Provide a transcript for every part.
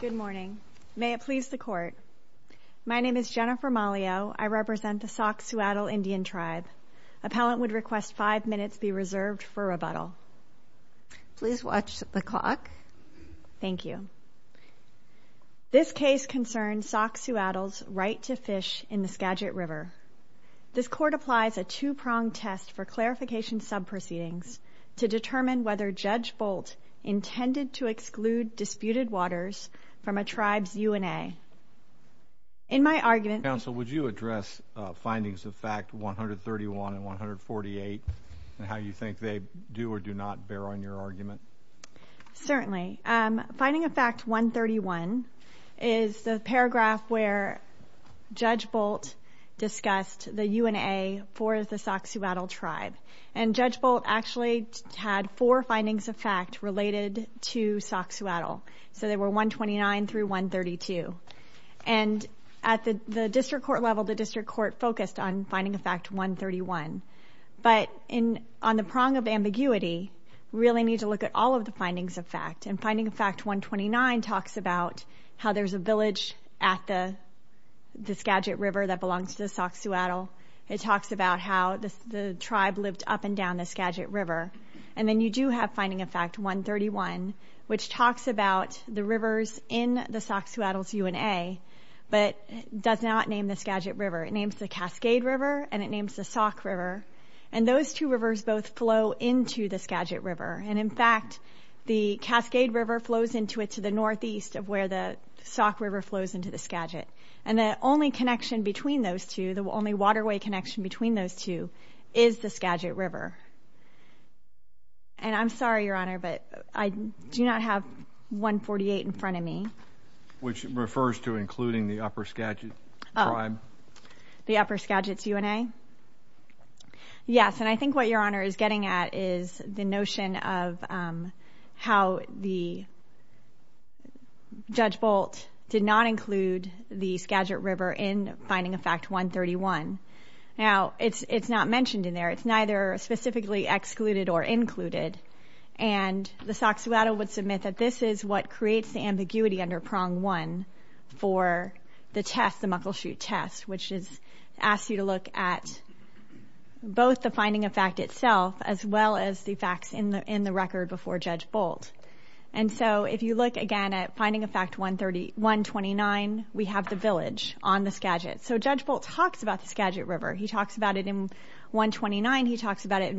Good morning. May it please the Court. My name is Jennifer Malio. I represent the Sauk-Suiattle Indian Tribe. Appellant would request five minutes be reserved for rebuttal. Please watch the clock. Thank you. This case concerns Sauk-Suiattle's right to fish in the Skagit River. This Court applies a two-pronged test for clarification sub-proceedings to determine whether Judge Bolt intended to exclude disputed waters from a tribe's UNA. In my argument... Counsel, would you address findings of fact 131 and 148 and how you think they do or do not bear on your argument? Certainly. Finding of fact 131 is the paragraph where Judge Bolt discussed the UNA for the Sauk-Suiattle Tribe. And Judge Bolt actually had four findings of fact related to Sauk-Suiattle. So they were 129 through 132. And at the District Court level, the District Court focused on finding of fact 131. But on the prong of ambiguity, we really need to look at all of the findings of fact. And finding of fact 129 talks about how there's a village at the Skagit River that belongs to the Sauk-Suiattle. It talks about how the tribe lived up and down the Skagit River. And then you do have finding of fact 131, which talks about the rivers in the Sauk-Suiattle's UNA, but does not name the Skagit River. It names the Cascade River, and it names the Sauk River. And those two rivers both flow into the Skagit River. And in fact, the Cascade River flows into it to the northeast of where the Sauk River flows into the Skagit. And the only connection between those two, the only waterway connection between those two, is the Skagit River. And I'm sorry, Your Honor, but I do not have 148 in front of me. Which refers to including the Upper Skagit Tribe? The Upper Skagit's UNA? Yes. And I think what Your Honor is getting at is the notion of how the Judge Bolt did not include the Skagit River in finding of fact 131. Now, it's not mentioned in there. It's neither specifically excluded or included. And the Sauk-Suiattle would submit that this is what creates the ambiguity under prong one for the test, the Muckleshoot test, which is, asks you to look at both the finding of fact itself, as well as the facts in the record before Judge Bolt. And so, if you look again at finding of fact 129, we have the village on the Skagit. So, Judge Bolt talks about the Skagit River. He talks about it in 129. He talks about it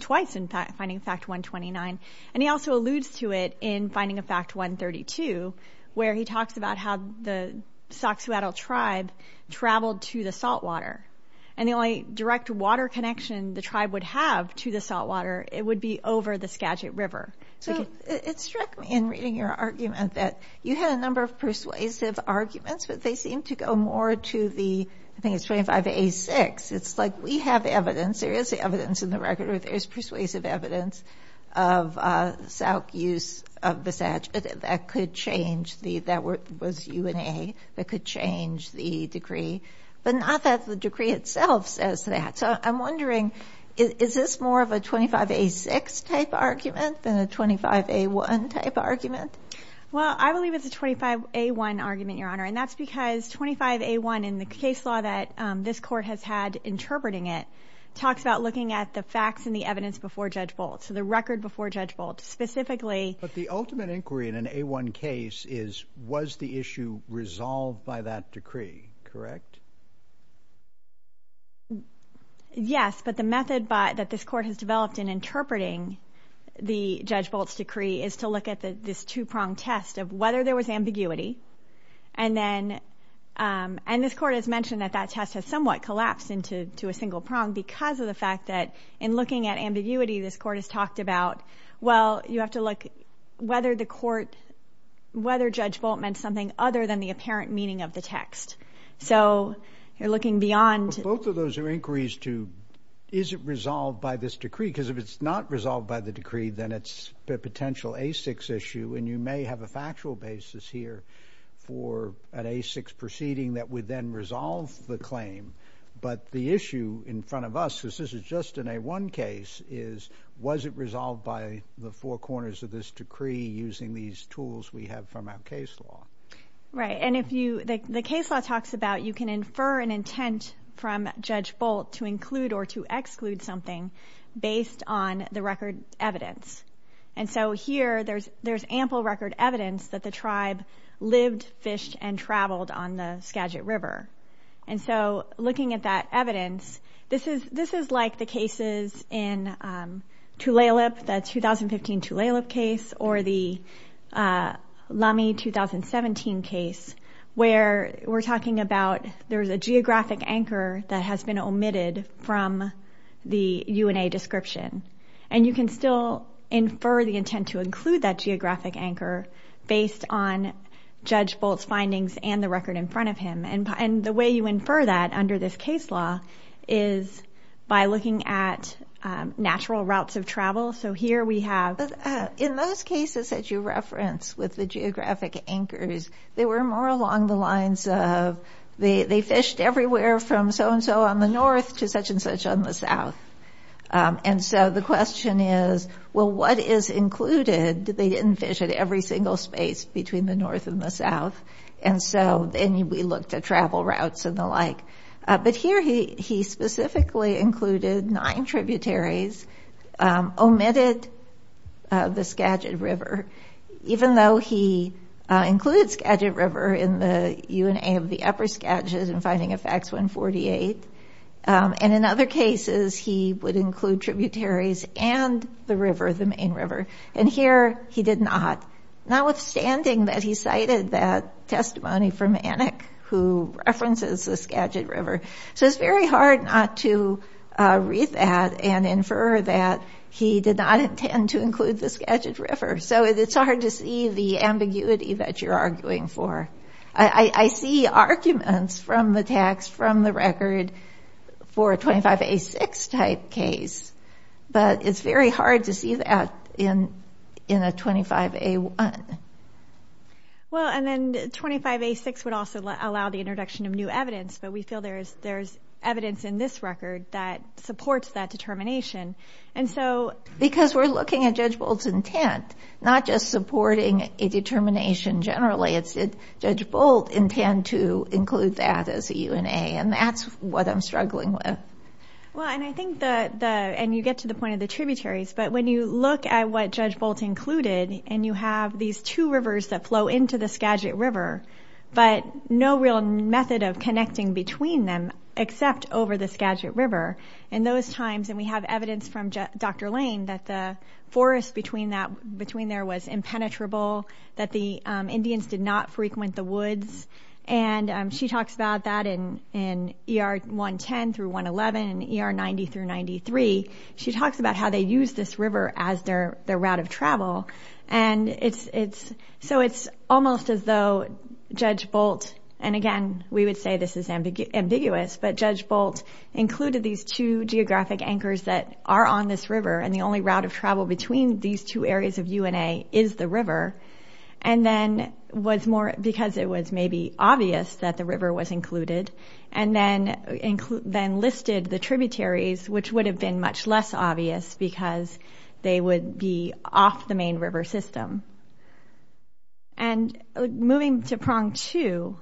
twice in finding of fact 129. And he also alludes to it in finding of fact 132, where he talks about how the Sauk-Suiattle tribe traveled to the saltwater. And the only direct water connection the tribe would have to the saltwater it would be over the Skagit River. So, it struck me in reading your argument that you had a number of persuasive arguments, but they seem to go more to the, I think it's 25A6. It's like we have evidence, there is evidence in the record, there's persuasive evidence of Sauk use of the Satch. That could change the, that was UNA, that could change the decree. But not that the decree itself says that. So, I'm wondering, is this more of a 25A6 type argument than a 25A1 type argument? Well, I believe it's a 25A1 argument, Your Honor. And that's because 25A1 in the case law that this court has had interpreting it, talks about looking at the facts and the evidence before Judge Bolt. So, the record before Judge Bolt, specifically. But the ultimate inquiry in an A1 case is, was the issue resolved by that decree, correct? Yes, but the method that this court has developed in interpreting the Judge Bolt's decree is to look at this two-pronged test of whether there was ambiguity. And then, and this court has mentioned that that test has somewhat collapsed into a single prong because of the fact that in looking at ambiguity, this court has talked about, well, you have to look whether the court, whether Judge Bolt meant something other than the apparent meaning of the text. So, you're looking beyond. So, both of those are inquiries to, is it resolved by this decree? Because if it's not resolved by the decree, then it's a potential A6 issue. And you may have a factual basis here for an A6 proceeding that would then resolve the claim. But the issue in front of us, because this is just an A1 case, is, was it resolved by the four corners of this decree using these tools we have from our case law? Right. And if you, the case law talks about, you can infer an intent from Judge Bolt to include or to exclude something based on the record evidence. And so, here, there's ample record evidence that the tribe lived, fished, and traveled on the Skagit River. And so, looking at that evidence, this is like the cases in Tulalip, the 2015 Tulalip case, or the Lamy 2017 case, where we're talking about, there's a geographic anchor that has been omitted from the UNA description. And you can still infer the intent to include that geographic anchor based on Judge Bolt's findings and the record in front of him. And the way you infer that under this case law is by looking at natural routes of travel. So, here we have... In those cases that you referenced with the geographic anchors, they were more along the lines of, they fished everywhere from so-and-so on the north to such-and-such on the south. And so, the question is, well, what is included? They didn't fish at every single space between the north and the south. And so, and we looked at travel routes and the like. But here, he didn't include the Skagit River, even though he included Skagit River in the UNA of the Upper Skagit in finding of Facts 148. And in other cases, he would include tributaries and the river, the main river. And here, he did not, notwithstanding that he cited that testimony from Anik, who references the Skagit River. So, it's very hard not to read that and infer that he did not intend to include the Skagit River. So, it's hard to see the ambiguity that you're arguing for. I see arguments from the text, from the record, for a 25A6 type case. But it's very hard to see that in a 25A1. Well, and then 25A6 would also allow the introduction of new evidence. But we feel there's evidence in this record that supports that determination. And so... Because we're looking at Judge Bolt's intent, not just supporting a determination generally, it's did Judge Bolt intend to include that as a UNA? And that's what I'm struggling with. Well, and I think that the, and you get to the point of the tributaries. But when you look at what Judge Bolt included, and you have these two rivers that flow into the Skagit River, but no real method of connecting between them, except over the Skagit River. In those times, and we have evidence from Dr. Lane that the forest between there was impenetrable, that the Indians did not frequent the woods. And she talks about that in ER 110 through 111 and ER 90 through 93. She talks about how they use this river as their route of travel. And it's... So it's almost as though Judge Bolt, and again, we would say this is ambiguous, but Judge Bolt included these two geographic anchors that are on this river. And the only route of travel between these two areas of UNA is the river. And then was more because it was maybe obvious that the river was included. And then listed the tributaries, which would have been much less obvious because they would be off the main river system. And moving to prong two.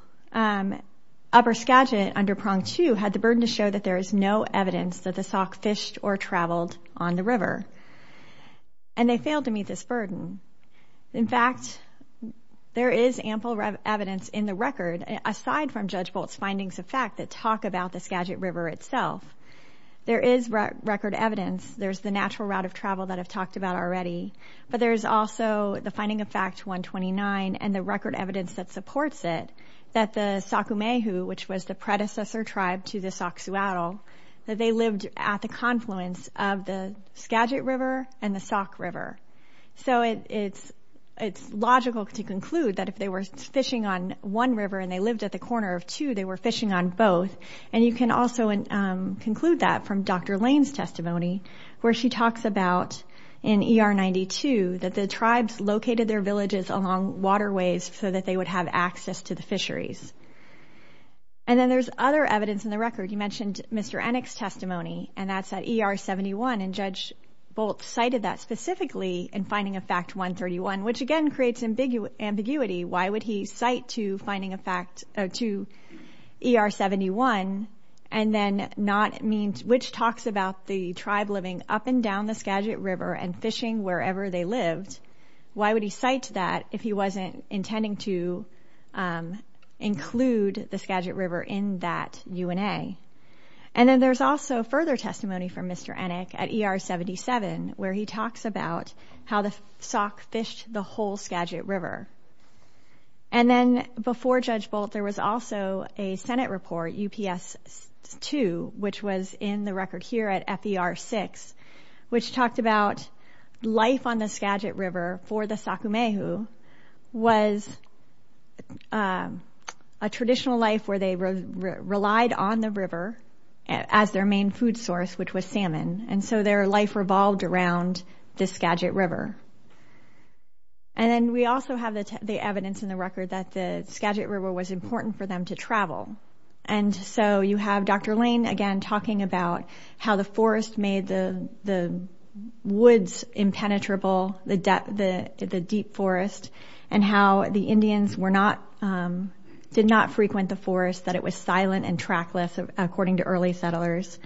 Upper Skagit under prong two had the burden to show that there is no evidence that the Sauk fished or traveled on the river. And they failed to meet this burden. In fact, there is ample evidence in the record, aside from Judge Bolt's findings of fact, that talk about the Skagit River itself. There is record evidence. There's the natural route of travel that I've talked about already. But there's also the finding of fact 129 and the record evidence that they lived at the confluence of the Skagit River and the Sauk River. So it's logical to conclude that if they were fishing on one river and they lived at the corner of two, they were fishing on both. And you can also conclude that from Dr. Lane's testimony, where she talks about in ER 92, that the tribes located their villages along waterways so that they would have access to the and that's at ER 71. And Judge Bolt cited that specifically in finding a fact 131, which again creates ambiguity. Why would he cite to finding a fact to ER 71? And then not means which talks about the tribe living up and down the Skagit River and fishing wherever they lived. Why would he cite to that if he wasn't intending to include the Skagit River in that UNA? And then there's also further testimony from Mr. Ennick at ER 77, where he talks about how the Sauk fished the whole Skagit River. And then before Judge Bolt, there was also a Senate report UPS 2, which was in the was a traditional life where they relied on the river as their main food source, which was salmon. And so their life revolved around the Skagit River. And then we also have the evidence in the record that the Skagit River was important for them to travel. And so you have Dr. Lane again talking about how the forest made the woods impenetrable, the deep forest, and how the Indians did not frequent the forest, that it was silent and trackless, according to early settlers,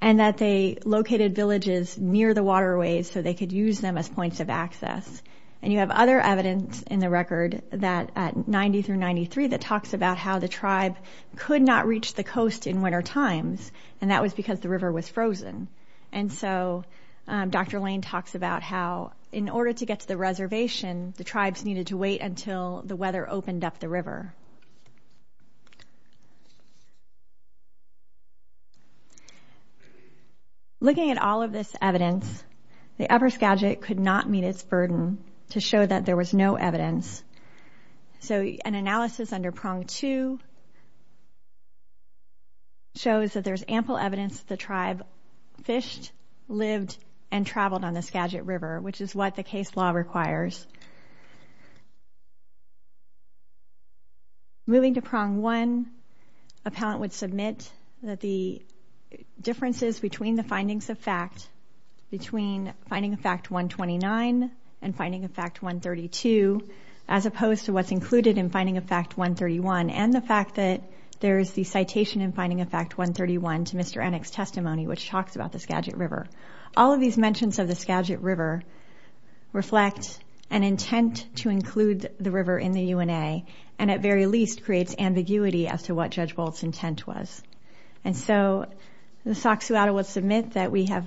and that they located villages near the waterways so they could use them as points of access. And you have other evidence in the record that at 90 through 93 that talks about how the tribe could not reach the coast in winter times, and that was because the river was frozen. And so Dr. Lane talks about how in order to get to the reservation, the tribes needed to wait until the weather opened up the river. Looking at all of this evidence, the upper Skagit could not meet its burden to show that there was no evidence. So an analysis under prong two shows that there's ample evidence the tribe fished, lived, and traveled on the Skagit River, which is what the case law requires. Moving to prong one, appellant would submit that the differences between the findings of fact, between finding of fact 129 and finding of fact 132, as opposed to what's included in finding of fact 131, and the fact that there's the citation in finding of fact 131 to Mr. Ennick's testimony, which talks about the Skagit River. All of these mentions of the Skagit River reflect an intent to include the river in the UNA, and at very least creates ambiguity as to what Judge Bolt's intent was. And so the Soxhawatta would submit that we have,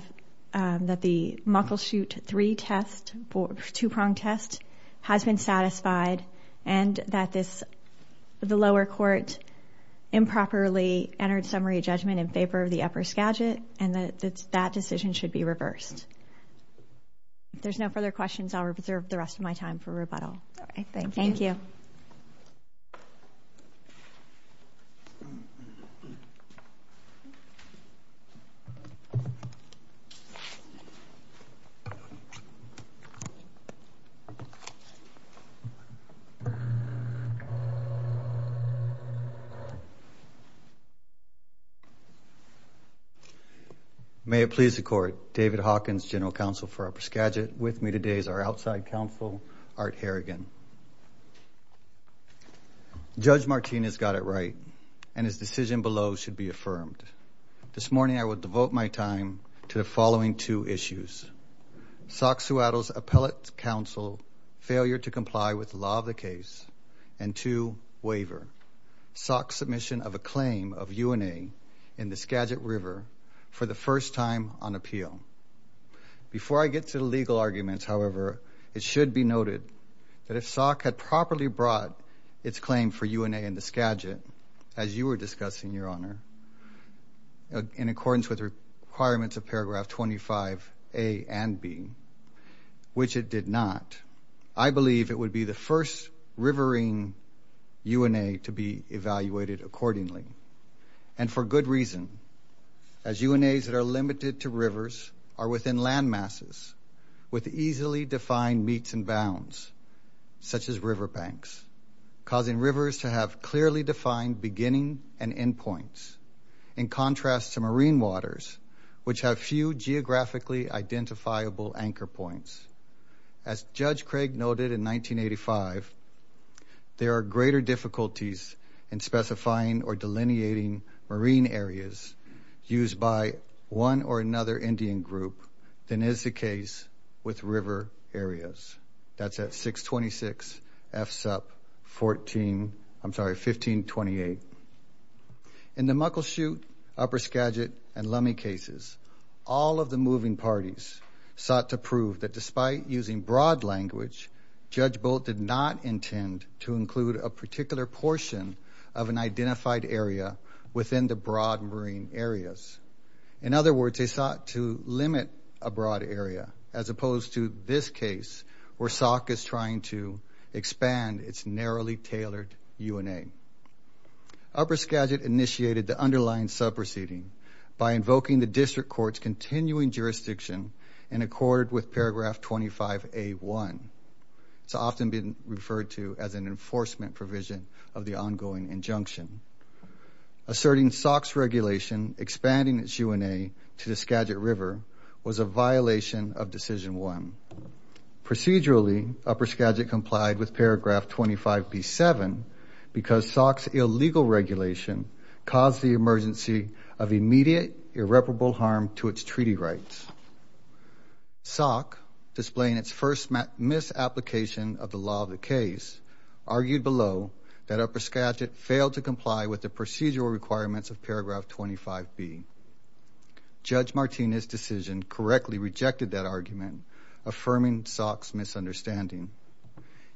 that the Muckleshoot three-prong test has been satisfied, and that the lower court improperly entered summary judgment in favor of the upper Skagit, and that that decision should be reversed. If there's no further questions, I'll reserve the rest of my time for rebuttal. Thank you. May it please the court, David Hawkins, General Counsel for Upper Skagit. With me today is our This morning I will devote my time to the following two issues. Soxhawatta's appellate counsel failure to comply with law of the case, and two, waiver. Soxhawatta's submission of a claim of UNA in the Skagit River for the first time on appeal. Before I get to the legal arguments, however, it should be noted that if Soxhawatta had properly brought its claim for UNA in the Skagit, as you were discussing, Your Honor, in accordance with requirements of paragraph 25A and B, which it did not, I believe it would be the first rivering UNA to be evaluated accordingly. And for good reason, as UNAs that are limited to rivers are within land masses with easily defined meets and bounds, such as riverbanks, causing rivers to have clearly defined beginning and end points, in contrast to marine waters, which have few geographically identifiable anchor points. As Judge Craig noted in 1985, there are greater difficulties in specifying or delineating marine areas used by one or another Indian group than is the case with river areas. That's at 626 F SUP 14, I'm sorry, 1528. In the Muckleshoot, Upper Skagit, and Lummi cases, all of the moving parties sought to prove that despite using broad language, Judge Bolt did not intend to include a particular portion of an identified area within the broad marine areas. In other words, they sought to limit a broad area, as opposed to this case where Sauk is trying to expand its narrowly tailored UNA. Upper Skagit initiated the underlying sub-proceeding by invoking the district court's continuing jurisdiction in accord with paragraph 25A1. It's often been referred to as an enforcement provision of the ongoing injunction. Asserting Sauk's regulation, expanding its UNA to the Skagit River, was a violation of decision one. Procedurally, Upper Skagit complied with paragraph 25B7 because Sauk's illegal regulation caused the emergency of immediate irreparable harm to its that Upper Skagit failed to comply with the procedural requirements of paragraph 25B. Judge Martinez' decision correctly rejected that argument, affirming Sauk's misunderstanding.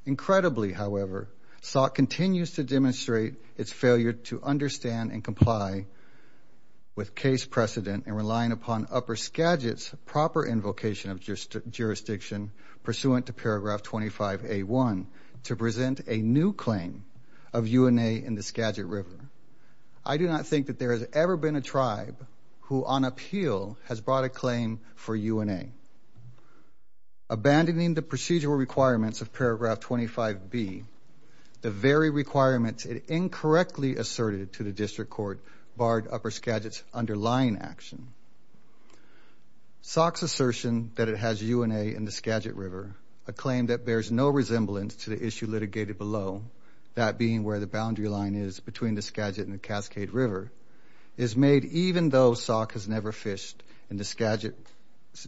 Incredibly, however, Sauk continues to demonstrate its failure to understand and comply with case precedent and relying upon Upper Skagit's proper invocation of jurisdiction pursuant to paragraph 25A1 to present a new claim of UNA in the Skagit River. I do not think that there has ever been a tribe who, on appeal, has brought a claim for UNA. Abandoning the procedural requirements of paragraph 25B, the very requirements it incorrectly asserted to the district court barred Upper Skagit's underlying action. Sauk's assertion that it has UNA in the Skagit River, a claim that bears no resemblance to issue litigated below, that being where the boundary line is between the Skagit and the Cascade River, is made even though Sauk has never fished in the Skagit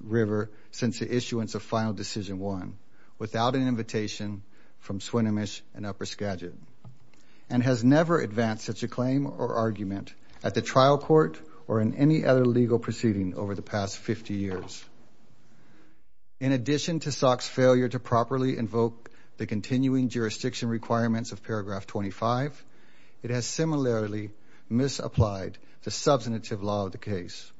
River since the issuance of final decision one, without an invitation from Swinomish and Upper Skagit, and has never advanced such a claim or argument at the trial court or in any other legal proceeding over the past 50 years. In addition to Sauk's failure to properly invoke the continuing jurisdiction requirements of paragraph 25, it has similarly misapplied the substantive law of the case.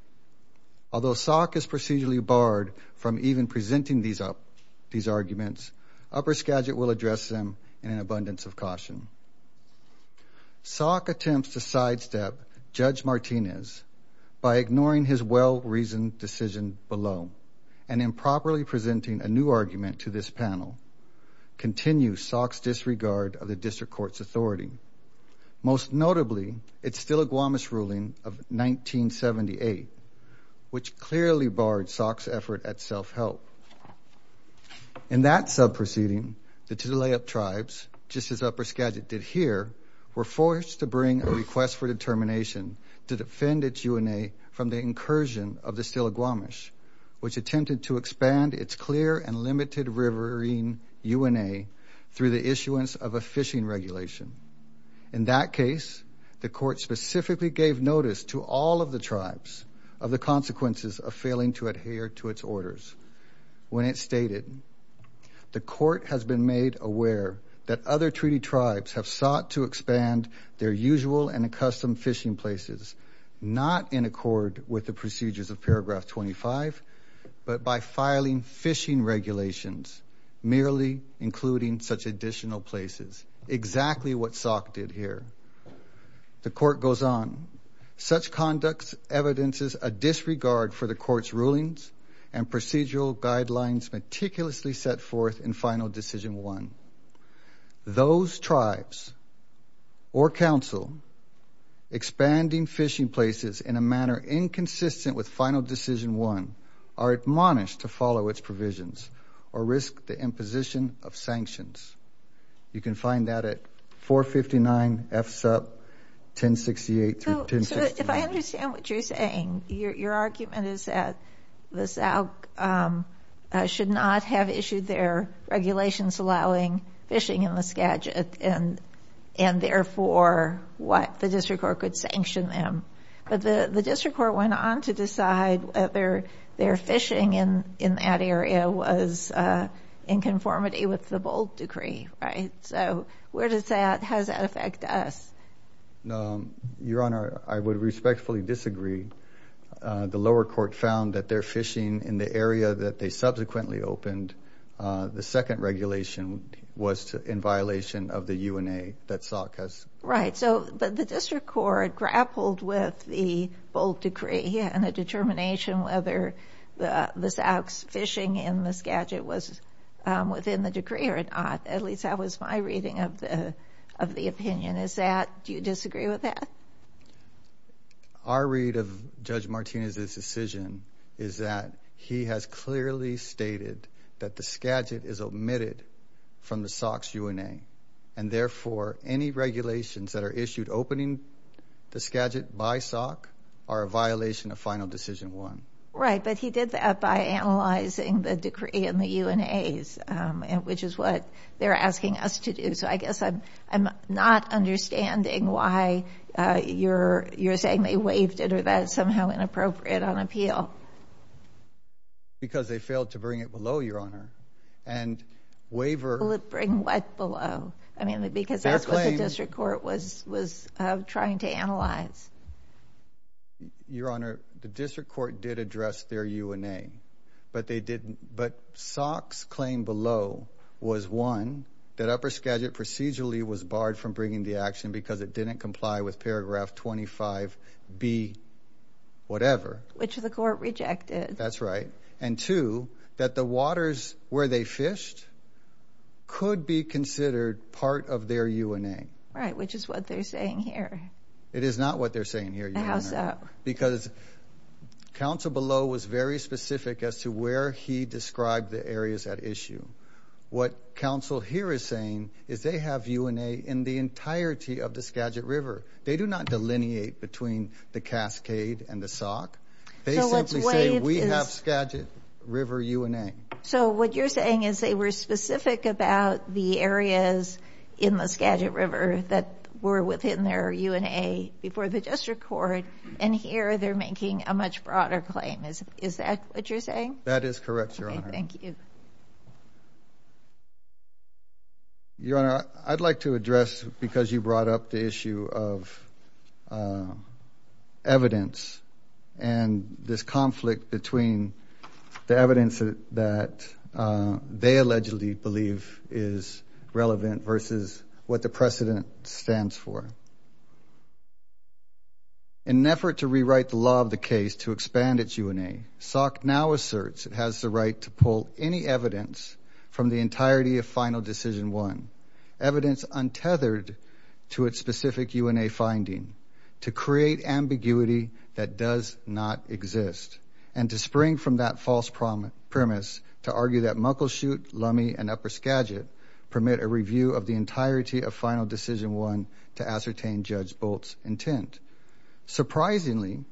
Although Sauk is procedurally barred from even presenting these up these arguments, Upper Skagit will address them in an abundance of caution. Sauk attempts to sidestep Judge Martinez by ignoring his well-reasoned decision below, and improperly presenting a new argument to this panel, continue Sauk's disregard of the district court's authority. Most notably, it's Stiligwamish ruling of 1978, which clearly barred Sauk's effort at self-help. In that sub proceeding, the Tulalip tribes, just as Upper Skagit did here, were forced to bring a request for determination to defend its UNA from the incursion of the Stiligwamish, which attempted to expand its clear and limited riverine UNA through the issuance of a fishing regulation. In that case, the court specifically gave notice to all of the tribes of the consequences of failing to adhere to its orders. When it stated, the court has been made aware that other treaty tribes have sought to expand their usual and accustomed fishing places, not in accord with the procedures of paragraph 25, but by filing fishing regulations, merely including such additional places, exactly what Sauk did here. The court goes on, such conducts evidences a disregard for the court's rulings and procedural guidelines meticulously set forth in final decision one. Those tribes or with final decision one are admonished to follow its provisions or risk the imposition of sanctions. You can find that at 459 F SUP 1068. So if I understand what you're saying, your argument is that the Sauk should not have issued their regulations allowing fishing in the Skagit, and and therefore what the district court could sanction them. But the district court went on to decide whether their fishing in that area was in conformity with the bold decree, right? So where does that, how does that affect us? Your Honor, I would respectfully disagree. The lower court found that their fishing in the area that they subsequently opened, the second regulation was in violation of the UNA that Sauk has. Right, so but the district court grappled with the bold decree and the determination whether the the Sauk's fishing in the Skagit was within the decree or not. At least that was my reading of the of the opinion. Is that, do you disagree with that? Our read of Judge Martinez's decision is that he has clearly stated that the Skagit is omitted from the Sauk's UNA, and therefore any regulations that are issued opening the Skagit by Sauk are a violation of Final Decision One. Right, but he did that by analyzing the decree and the UNA's, which is what they're asking us to do. So I guess I'm I'm not understanding why you're you're saying they waived it or that is somehow inappropriate on appeal. Because they failed to bring it below, Your Honor, and waiver. Bring what below? I mean because that's what the district court was was trying to analyze. Your Honor, the district court did address their UNA, but they didn't, but Sauk's claim below was one, that upper Skagit procedurally was barred from bringing the action because it didn't comply with paragraph 25B whatever. Which the court rejected. That's right, and two, that the waters where they fished could be considered part of their UNA. Right, which is what they're saying here. It is not what they're saying here. How so? Because counsel below was very specific as to where he described the areas at issue. What counsel here is saying is they have UNA in the entirety of the Skagit River. They do not delineate between the Cascade and the Sauk. They simply say we have Skagit River UNA. So what you're saying is they were specific about the areas in the Skagit River that were within their UNA before the district court, and here they're making a much broader claim. Is that what you're saying? That is correct, Your Honor. Thank you. Your Honor, I'd like to address, because you brought up the issue of evidence and this conflict between the evidence that they allegedly believe is relevant versus what the precedent stands for. In an effort to rewrite the law of the case to expand its UNA, Sauk now asserts it has the right to pull any evidence from the specific UNA finding, to create ambiguity that does not exist, and to spring from that false premise to argue that Muckleshoot, Lummi, and Upper Skagit permit a review of the entirety of Final Decision 1 to ascertain Judge Bolt's intent. Surprisingly,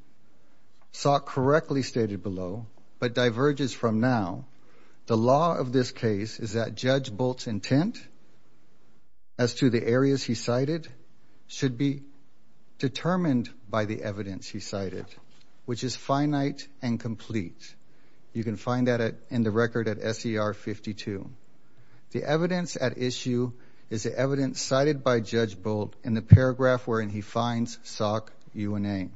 Sauk correctly stated below, but should be determined by the evidence he cited, which is finite and complete. You can find that in the record at SER 52. The evidence at issue is the evidence cited by Judge Bolt in the paragraph wherein he finds Sauk UNA.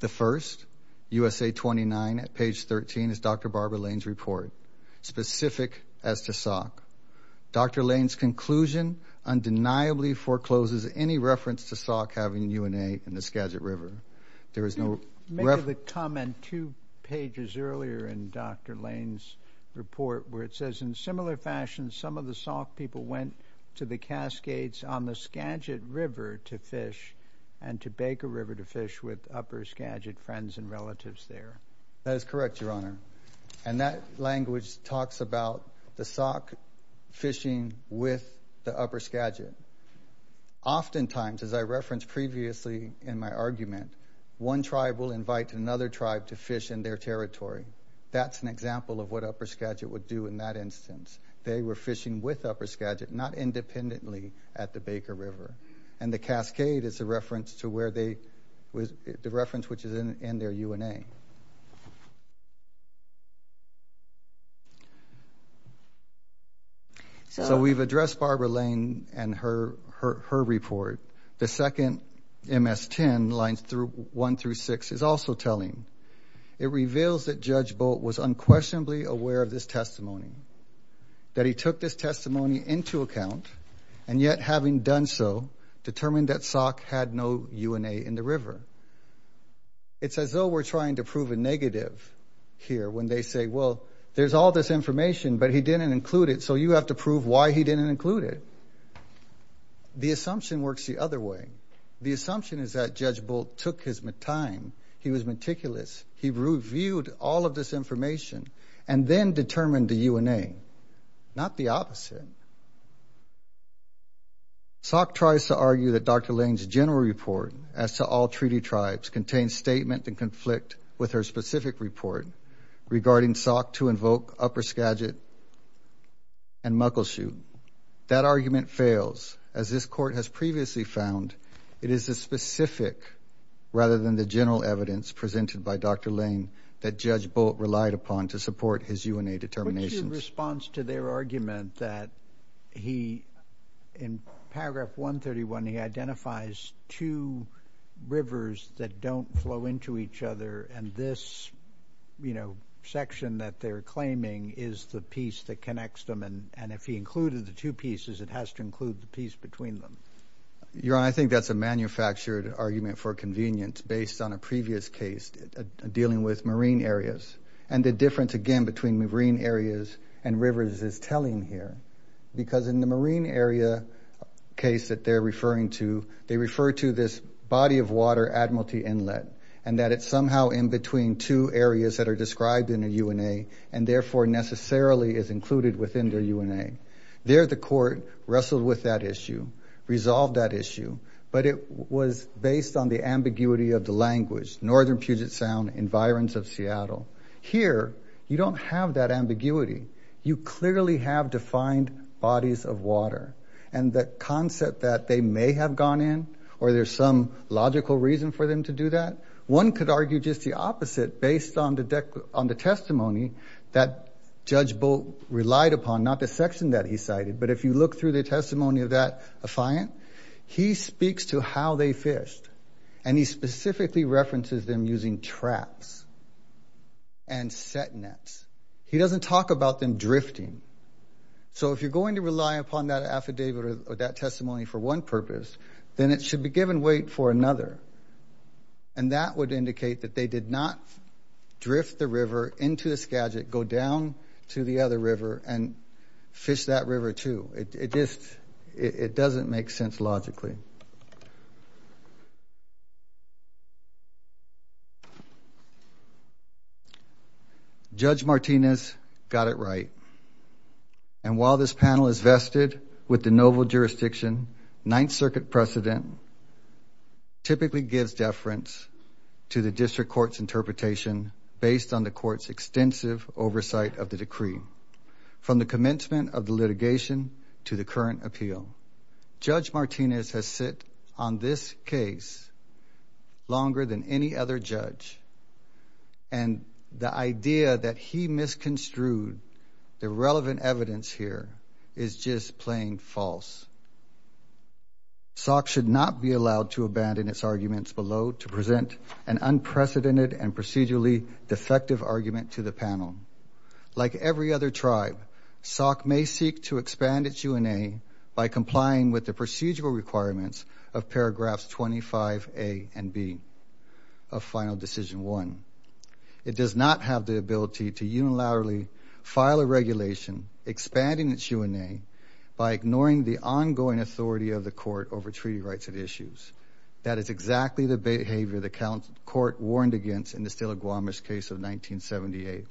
The first, USA 29 at page 13, is Dr. Barbara Lane's report, specific as to if she forecloses any reference to Sauk having UNA in the Skagit River. There is no reference... You made the comment two pages earlier in Dr. Lane's report where it says, in similar fashion, some of the Sauk people went to the Cascades on the Skagit River to fish and to Baker River to fish with Upper Skagit friends and relatives there. That is correct, Your Honor, and that language talks about the Sauk fishing with the Upper Skagit. Oftentimes, as I referenced previously in my argument, one tribe will invite another tribe to fish in their territory. That's an example of what Upper Skagit would do in that instance. They were fishing with Upper Skagit, not independently at the Baker River. And the Cascade is the reference which is in their UNA. So we've addressed Barbara Lane and her report. The second, MS 10, lines 1 through 6, is also telling. It reveals that Judge Bolt was unquestionably aware of this testimony, that he took this testimony into account, and yet having done so, determined that Sauk had no UNA in the river. It's as though we're trying to prove a negative here when they say, well, there's all this information, but he didn't include it, so you have to prove why he didn't include it. The assumption works the other way. The assumption is that Judge Bolt took his time. He was meticulous. He reviewed all of this information and then determined the UNA, not the opposite. Sauk tries to argue that Dr. Lane's general report as to all treaty tribes contains statement and conflict with her specific report regarding Sauk to invoke Upper Skagit and Muckleshoot. That argument fails, as this court has previously found it is the specific, rather than the general evidence presented by Dr. Lane, that Judge Bolt relied upon to support his UNA determinations. In response to their argument that he, in paragraph 131, he identifies two rivers that don't flow into each other, and this, you know, section that they're claiming is the piece that connects them, and if he included the two pieces, it has to include the piece between them. Your Honor, I think that's a manufactured argument for convenience based on a previous case dealing with marine areas, and the difference, again, between marine areas and rivers is telling here, because in the marine area case that they're referring to, they refer to this body of water admiralty inlet, and that it's somehow in between two areas that are described in the UNA, and but it was based on the ambiguity of the language, Northern Puget Sound, environs of Seattle. Here, you don't have that ambiguity. You clearly have defined bodies of water, and the concept that they may have gone in, or there's some logical reason for them to do that, one could argue just the opposite based on the testimony that Judge Bolt relied upon, not the section that he cited, but if you look through the testimony of that affiant, he speaks to how they fished, and he specifically references them using traps and set nets. He doesn't talk about them drifting, so if you're going to rely upon that affidavit or that testimony for one purpose, then it should be given weight for another, and that would indicate that they did not drift the river into the Skagit, go down to the other river, and it just, it doesn't make sense logically. Judge Martinez got it right. And while this panel is vested with the novel jurisdiction, Ninth Circuit precedent typically gives deference to the district court's interpretation based on the court's extensive oversight of the decree. From the commencement of the litigation to the current appeal, Judge Martinez has sit on this case longer than any other judge, and the idea that he misconstrued the relevant evidence here is just plain false. SOC should not be allowed to abandon its arguments below to present an unprecedented and procedurally defective argument to the panel. Like every other tribe, SOC may seek to expand its UNA by complying with the procedural requirements of paragraphs 25A and B of final decision one. It does not have the ability to unilaterally file a regulation expanding its UNA by ignoring the ongoing authority of the court over treaty rights and issues. That is exactly the behavior the court warned against in the Stela Gwamis case of 1978.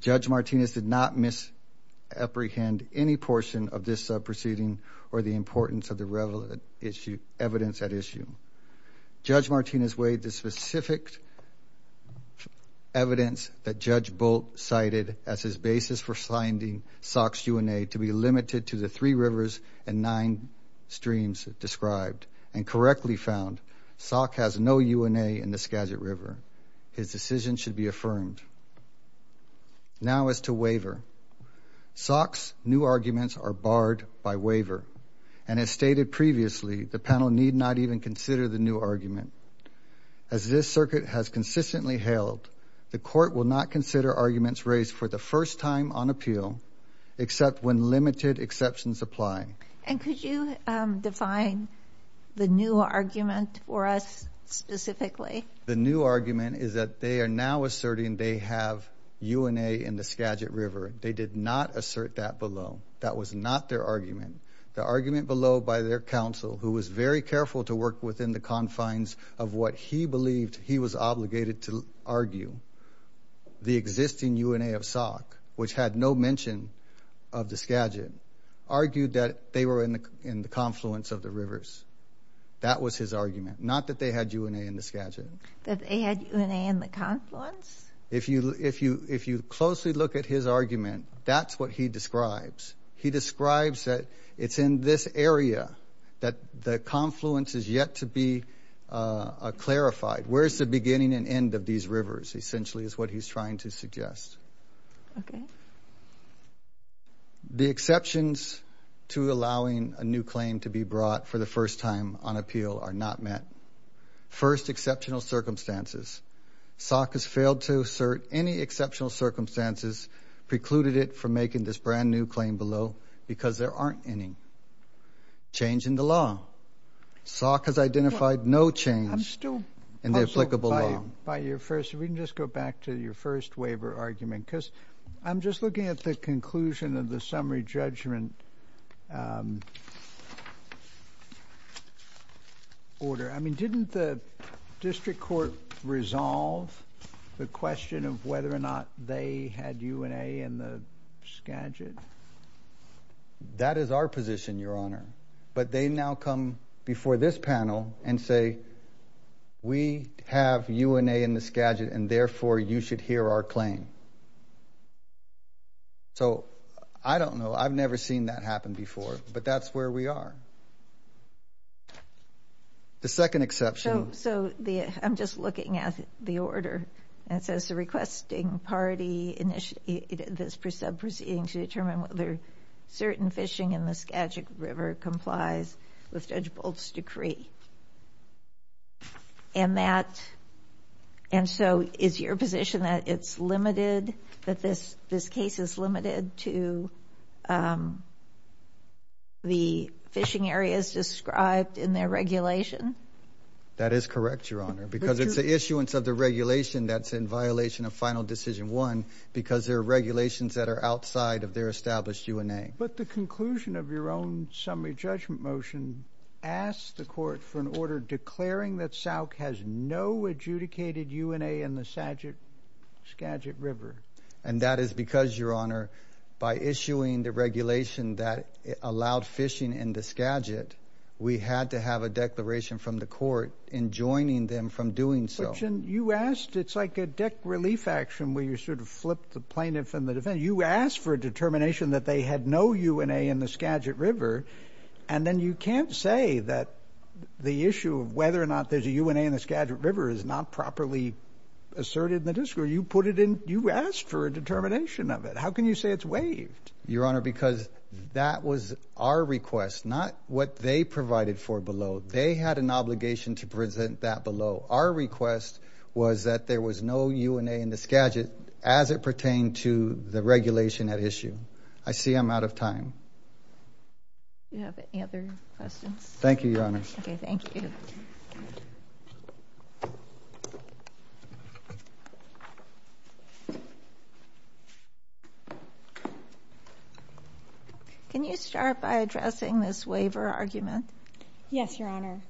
Judge Martinez did not misapprehend any portion of this sub proceeding or the importance of the relevant evidence at issue. Judge Martinez weighed the specific evidence that Judge Bolt cited as his basis for signing SOC's UNA to be limited to the three rivers and nine streams described and correctly found, SOC has no UNA in the Skagit River. His decision should be affirmed. Now as to waiver, SOC's new arguments are barred by waiver, and as stated previously, the panel need not even consider the new argument. As this circuit has consistently held, the court will not consider arguments raised for the first time on appeal except when limited exceptions apply. And could you define the new argument for us specifically? The new argument is that they are now asserting they have UNA in the Skagit River. They did not assert that below. That was not their argument. The argument below by their counsel, who was very careful to work within the confines of what he believed he was obligated to argue, the existing UNA of SOC, which had no mention of the Skagit, argued that they were in the confluence of the rivers. That was his argument. Not that they had UNA in the Skagit. That they had UNA in the confluence? If you closely look at his argument, that's what he describes. He describes that it's in this area that the confluence is yet to be clarified. Where's the beginning and end of these rivers? Essentially is what he's trying to suggest. Okay. The exceptions to allowing a new claim to be brought for the first time on appeal are not met. First, exceptional circumstances. SOC has failed to assert any exceptional circumstances precluded it from making this brand new claim below because there aren't any. Change in the law. SOC has identified no change in the applicable law. By your first, if we can just go back to your first waiver argument, because I'm just looking at the conclusion of the summary judgment order. I mean, didn't the district court resolve the question of whether or not they had UNA in the Skagit? That is our position, Your Honor. But they now come before this panel and say, we have UNA in the Skagit, and therefore, you should hear our claim. So, I don't know. I've never seen that happen before, but that's where we are. The second exception. So, I'm just looking at the order. It says, the requesting party initiated this sub proceeding to determine whether certain fishing in the Skagit River complies with Judge Bolt's decree. And that, and so, is your position that it's limited, that this case is limited to the fishing areas described in their regulation? That is correct, Your Honor. Because it's the issuance of the regulation that's in violation of Final Decision 1, because there are regulations that are outside of their established UNA. But the conclusion of your own summary judgment motion asks the court for an order declaring that SOC has no adjudicated UNA in the Skagit River. And that is because, Your Honor, by issuing the regulation that allowed fishing in the Skagit, we had to have a declaration from the court in joining them from doing so. But, you asked, it's like a deck relief action where you sort of flip the plaintiff and the defendant. You asked for a determination that they had no UNA in the Skagit River, and then you can't say that the issue of whether or not there's a UNA in the Skagit River is not properly asserted in the district. Or you put it in, you asked for a determination of it. How can you say it's waived? Your Honor, because that was our request, not what they provided for below. They had an obligation to present that below. Our request was that there was no UNA in the Skagit as it pertained to the regulation at issue. I see I'm out of time. Do you have any other questions? Thank you, Your Honor. Okay, thank you. Can you start by addressing this waiver argument? Yes, Your Honor.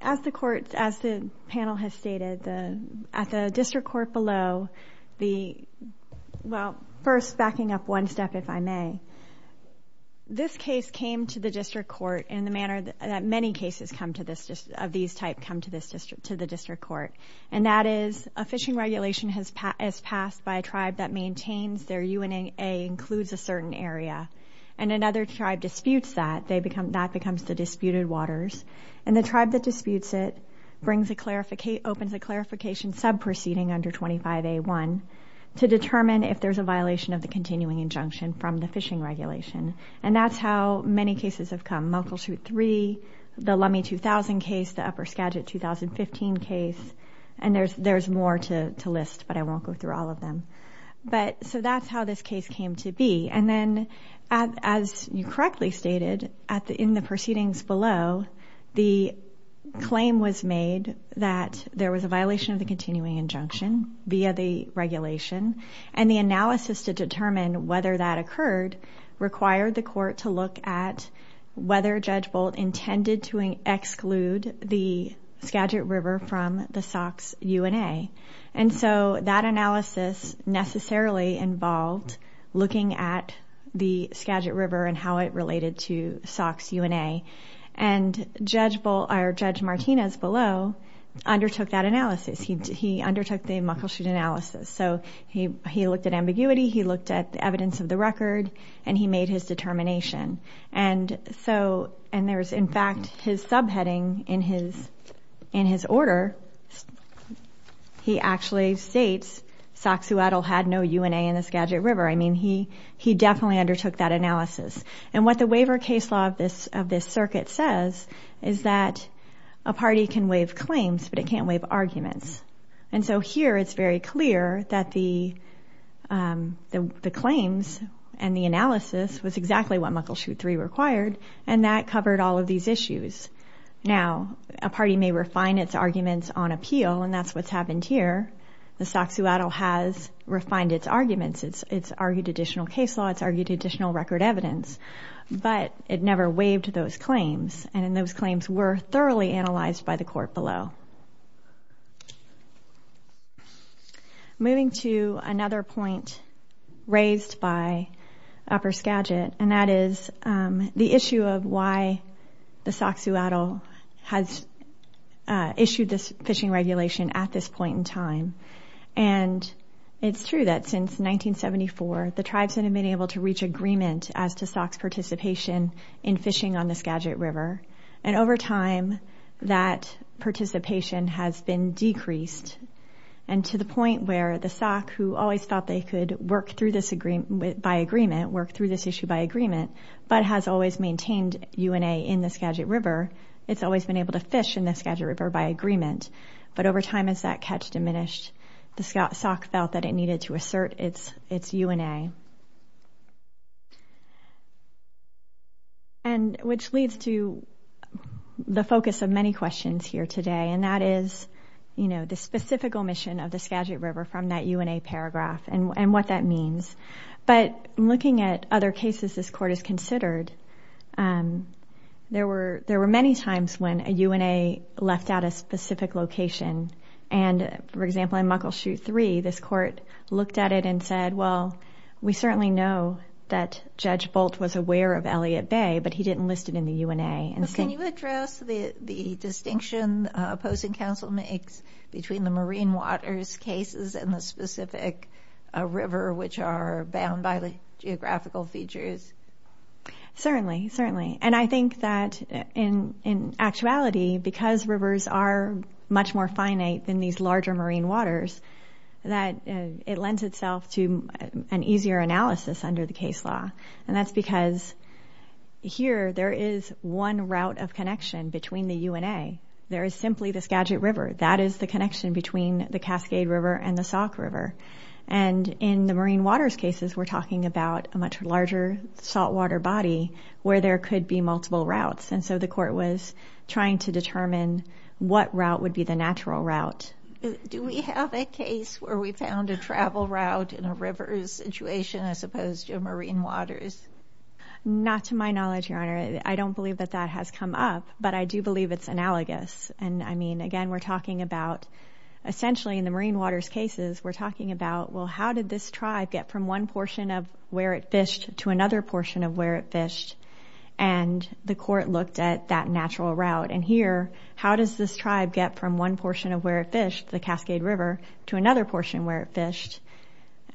As the panel has stated, at the district court below, first backing up one step, if I may, this case came to the district court in the manner that many cases of these type come to the district court. And that is a fishing regulation is passed by a tribe that maintains their UNA includes a certain area. And another tribe disputes that, that becomes the disputed waters. And the tribe that disputes it opens a clarification sub-proceeding under 25A1 to determine if there's a violation of the continuing injunction from the fishing regulation. And that's how many cases have come. Muckleshoot 3, the Lummi 2000 case, the Upper Skagit 2015 case. And there's more to list, but I won't go through all of them. But, so that's how this case came to be. And then, as you correctly stated, in the proceedings below, the claim was made that there was a violation of the continuing injunction via the regulation. And the analysis to determine whether that occurred required the court to look at whether Judge Bolt intended to exclude the Skagit River from the Sauk's UNA. And so that analysis necessarily involved looking at the Skagit River and how it related to Sauk's UNA. And Judge Martinez below undertook that analysis. He undertook the Muckleshoot analysis. So he looked at ambiguity, he looked at evidence of the record, and he made his determination. And there's, in fact, his subheading in his order. He actually states Sauk's UNA had no UNA in the Skagit River. I mean, he definitely undertook that analysis. And what the waiver case law of this circuit says is that a party can waive claims, but it can't waive arguments. And so here, it's very clear that the claims and the analysis was exactly what Muckleshoot 3 required, and that covered all of these issues. Now, a party may refine its arguments on appeal, and that's what's happened here. The Sauk's UNA has refined its arguments. It's argued additional case law. It's argued additional record evidence. But it never waived those claims. And those claims were thoroughly analyzed by the court below. Moving to another point raised by Upper Skagit, and that is the issue of why the Sauk Suatl has issued this fishing regulation at this point in time. And it's true that since 1974, the tribes have been able to reach agreement as to Sauk's participation in fishing on the Skagit River. And over time, that participation has been decreased. And to the point where the Sauk, who always thought they could work through this by agreement, work through this issue by agreement, but has always maintained UNA in the Skagit River, it's always been able to fish in the Skagit River by agreement. But over time, as that catch diminished, the Sauk felt that it needed to assert its UNA. And which leads to the focus of many questions here today, and that is, you know, the specific omission of the Skagit River from that UNA paragraph and what that means. But looking at other cases this court has considered, there were many times when a UNA left out a specific location. And, for example, in Muckleshoot 3, this court looked at it and said, well, we certainly know that Judge Bolt was aware of Elliott Bay, but he didn't list it in the UNA. Can you address the distinction opposing counsel makes between the marine waters cases and the specific river, which are bound by the geographical features? Certainly, certainly. And I think that, in actuality, because rivers are much more finite than these larger marine waters, that it lends itself to an easier analysis under the case law. And that's because here there is one route of connection between the UNA. There is simply the Skagit River. That is the connection between the Cascade River and the Sauk River. And in the marine waters cases, we're talking about a much larger saltwater body where there could be multiple routes. And so the court was trying to determine what route would be the natural route. Do we have a case where we found a travel route in a river situation as opposed to a marine waters? Not to my knowledge, Your Honor. I don't believe that that has come up, but I do believe it's analogous. And I mean, again, we're talking about essentially in the marine waters cases, we're talking about, well, how did this tribe get from one portion of where it fished to another portion of where it fished? And the court looked at that natural route. And here, how does this tribe get from one portion of where it fished, the Cascade River, to another portion where it fished?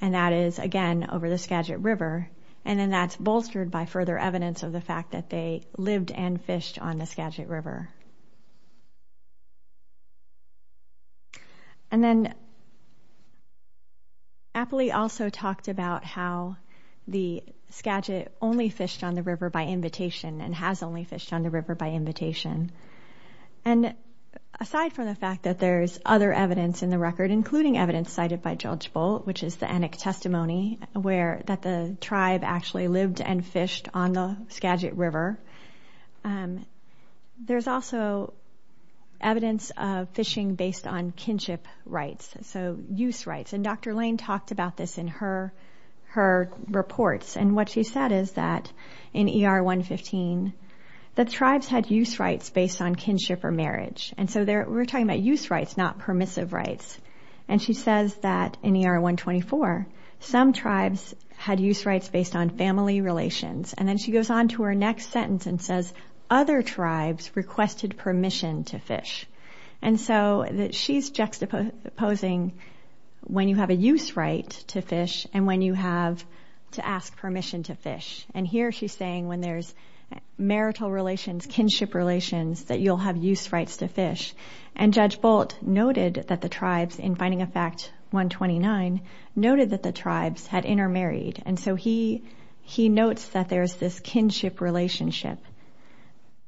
And that is, again, over the Skagit River. And then that's bolstered by further evidence of the fact that they lived and fished on the Skagit River. And then Appley also talked about how the Skagit only fished on the river by invitation and has only fished on the river by invitation. And aside from the fact that there's other evidence in the record, including evidence cited by Judge Bolt, which is the ennick testimony, that the tribe actually lived and fished on the Skagit River. There's also evidence of fishing based on kinship rights, so use rights. And Dr. Lane talked about this in her reports. And what she said is that in ER 115, that tribes had use rights based on kinship or marriage. And so we're talking about use rights, not permissive rights. And she says that in ER 124, some tribes had use rights based on family relations. And then she goes on to her next sentence and says, other tribes requested permission to fish. And so that she's juxtaposing when you have a use right to fish and when you have to ask permission to fish. And here she's saying when there's marital relations, kinship relations, that you'll have use rights to fish. And Judge Bolt noted that the tribes, in Finding a Fact 129, noted that the tribes had intermarried. And so he notes that there's this kinship relationship.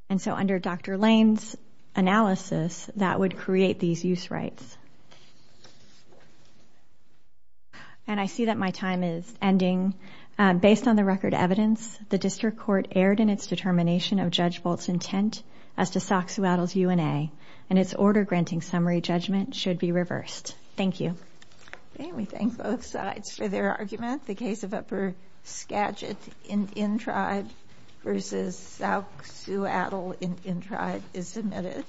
And so under Dr. Lane's analysis, that would create these use rights. And I see that my time is ending. Based on the record evidence, the District Court erred in its determination of Judge Bolt's intent as to Soxhawattles' UNA. And its order granting summary judgment should be reversed. Thank you. Okay, we thank both sides for their argument. The case of Upper Skagit Indian Tribe versus Soxhawattle Indian Tribe is submitted.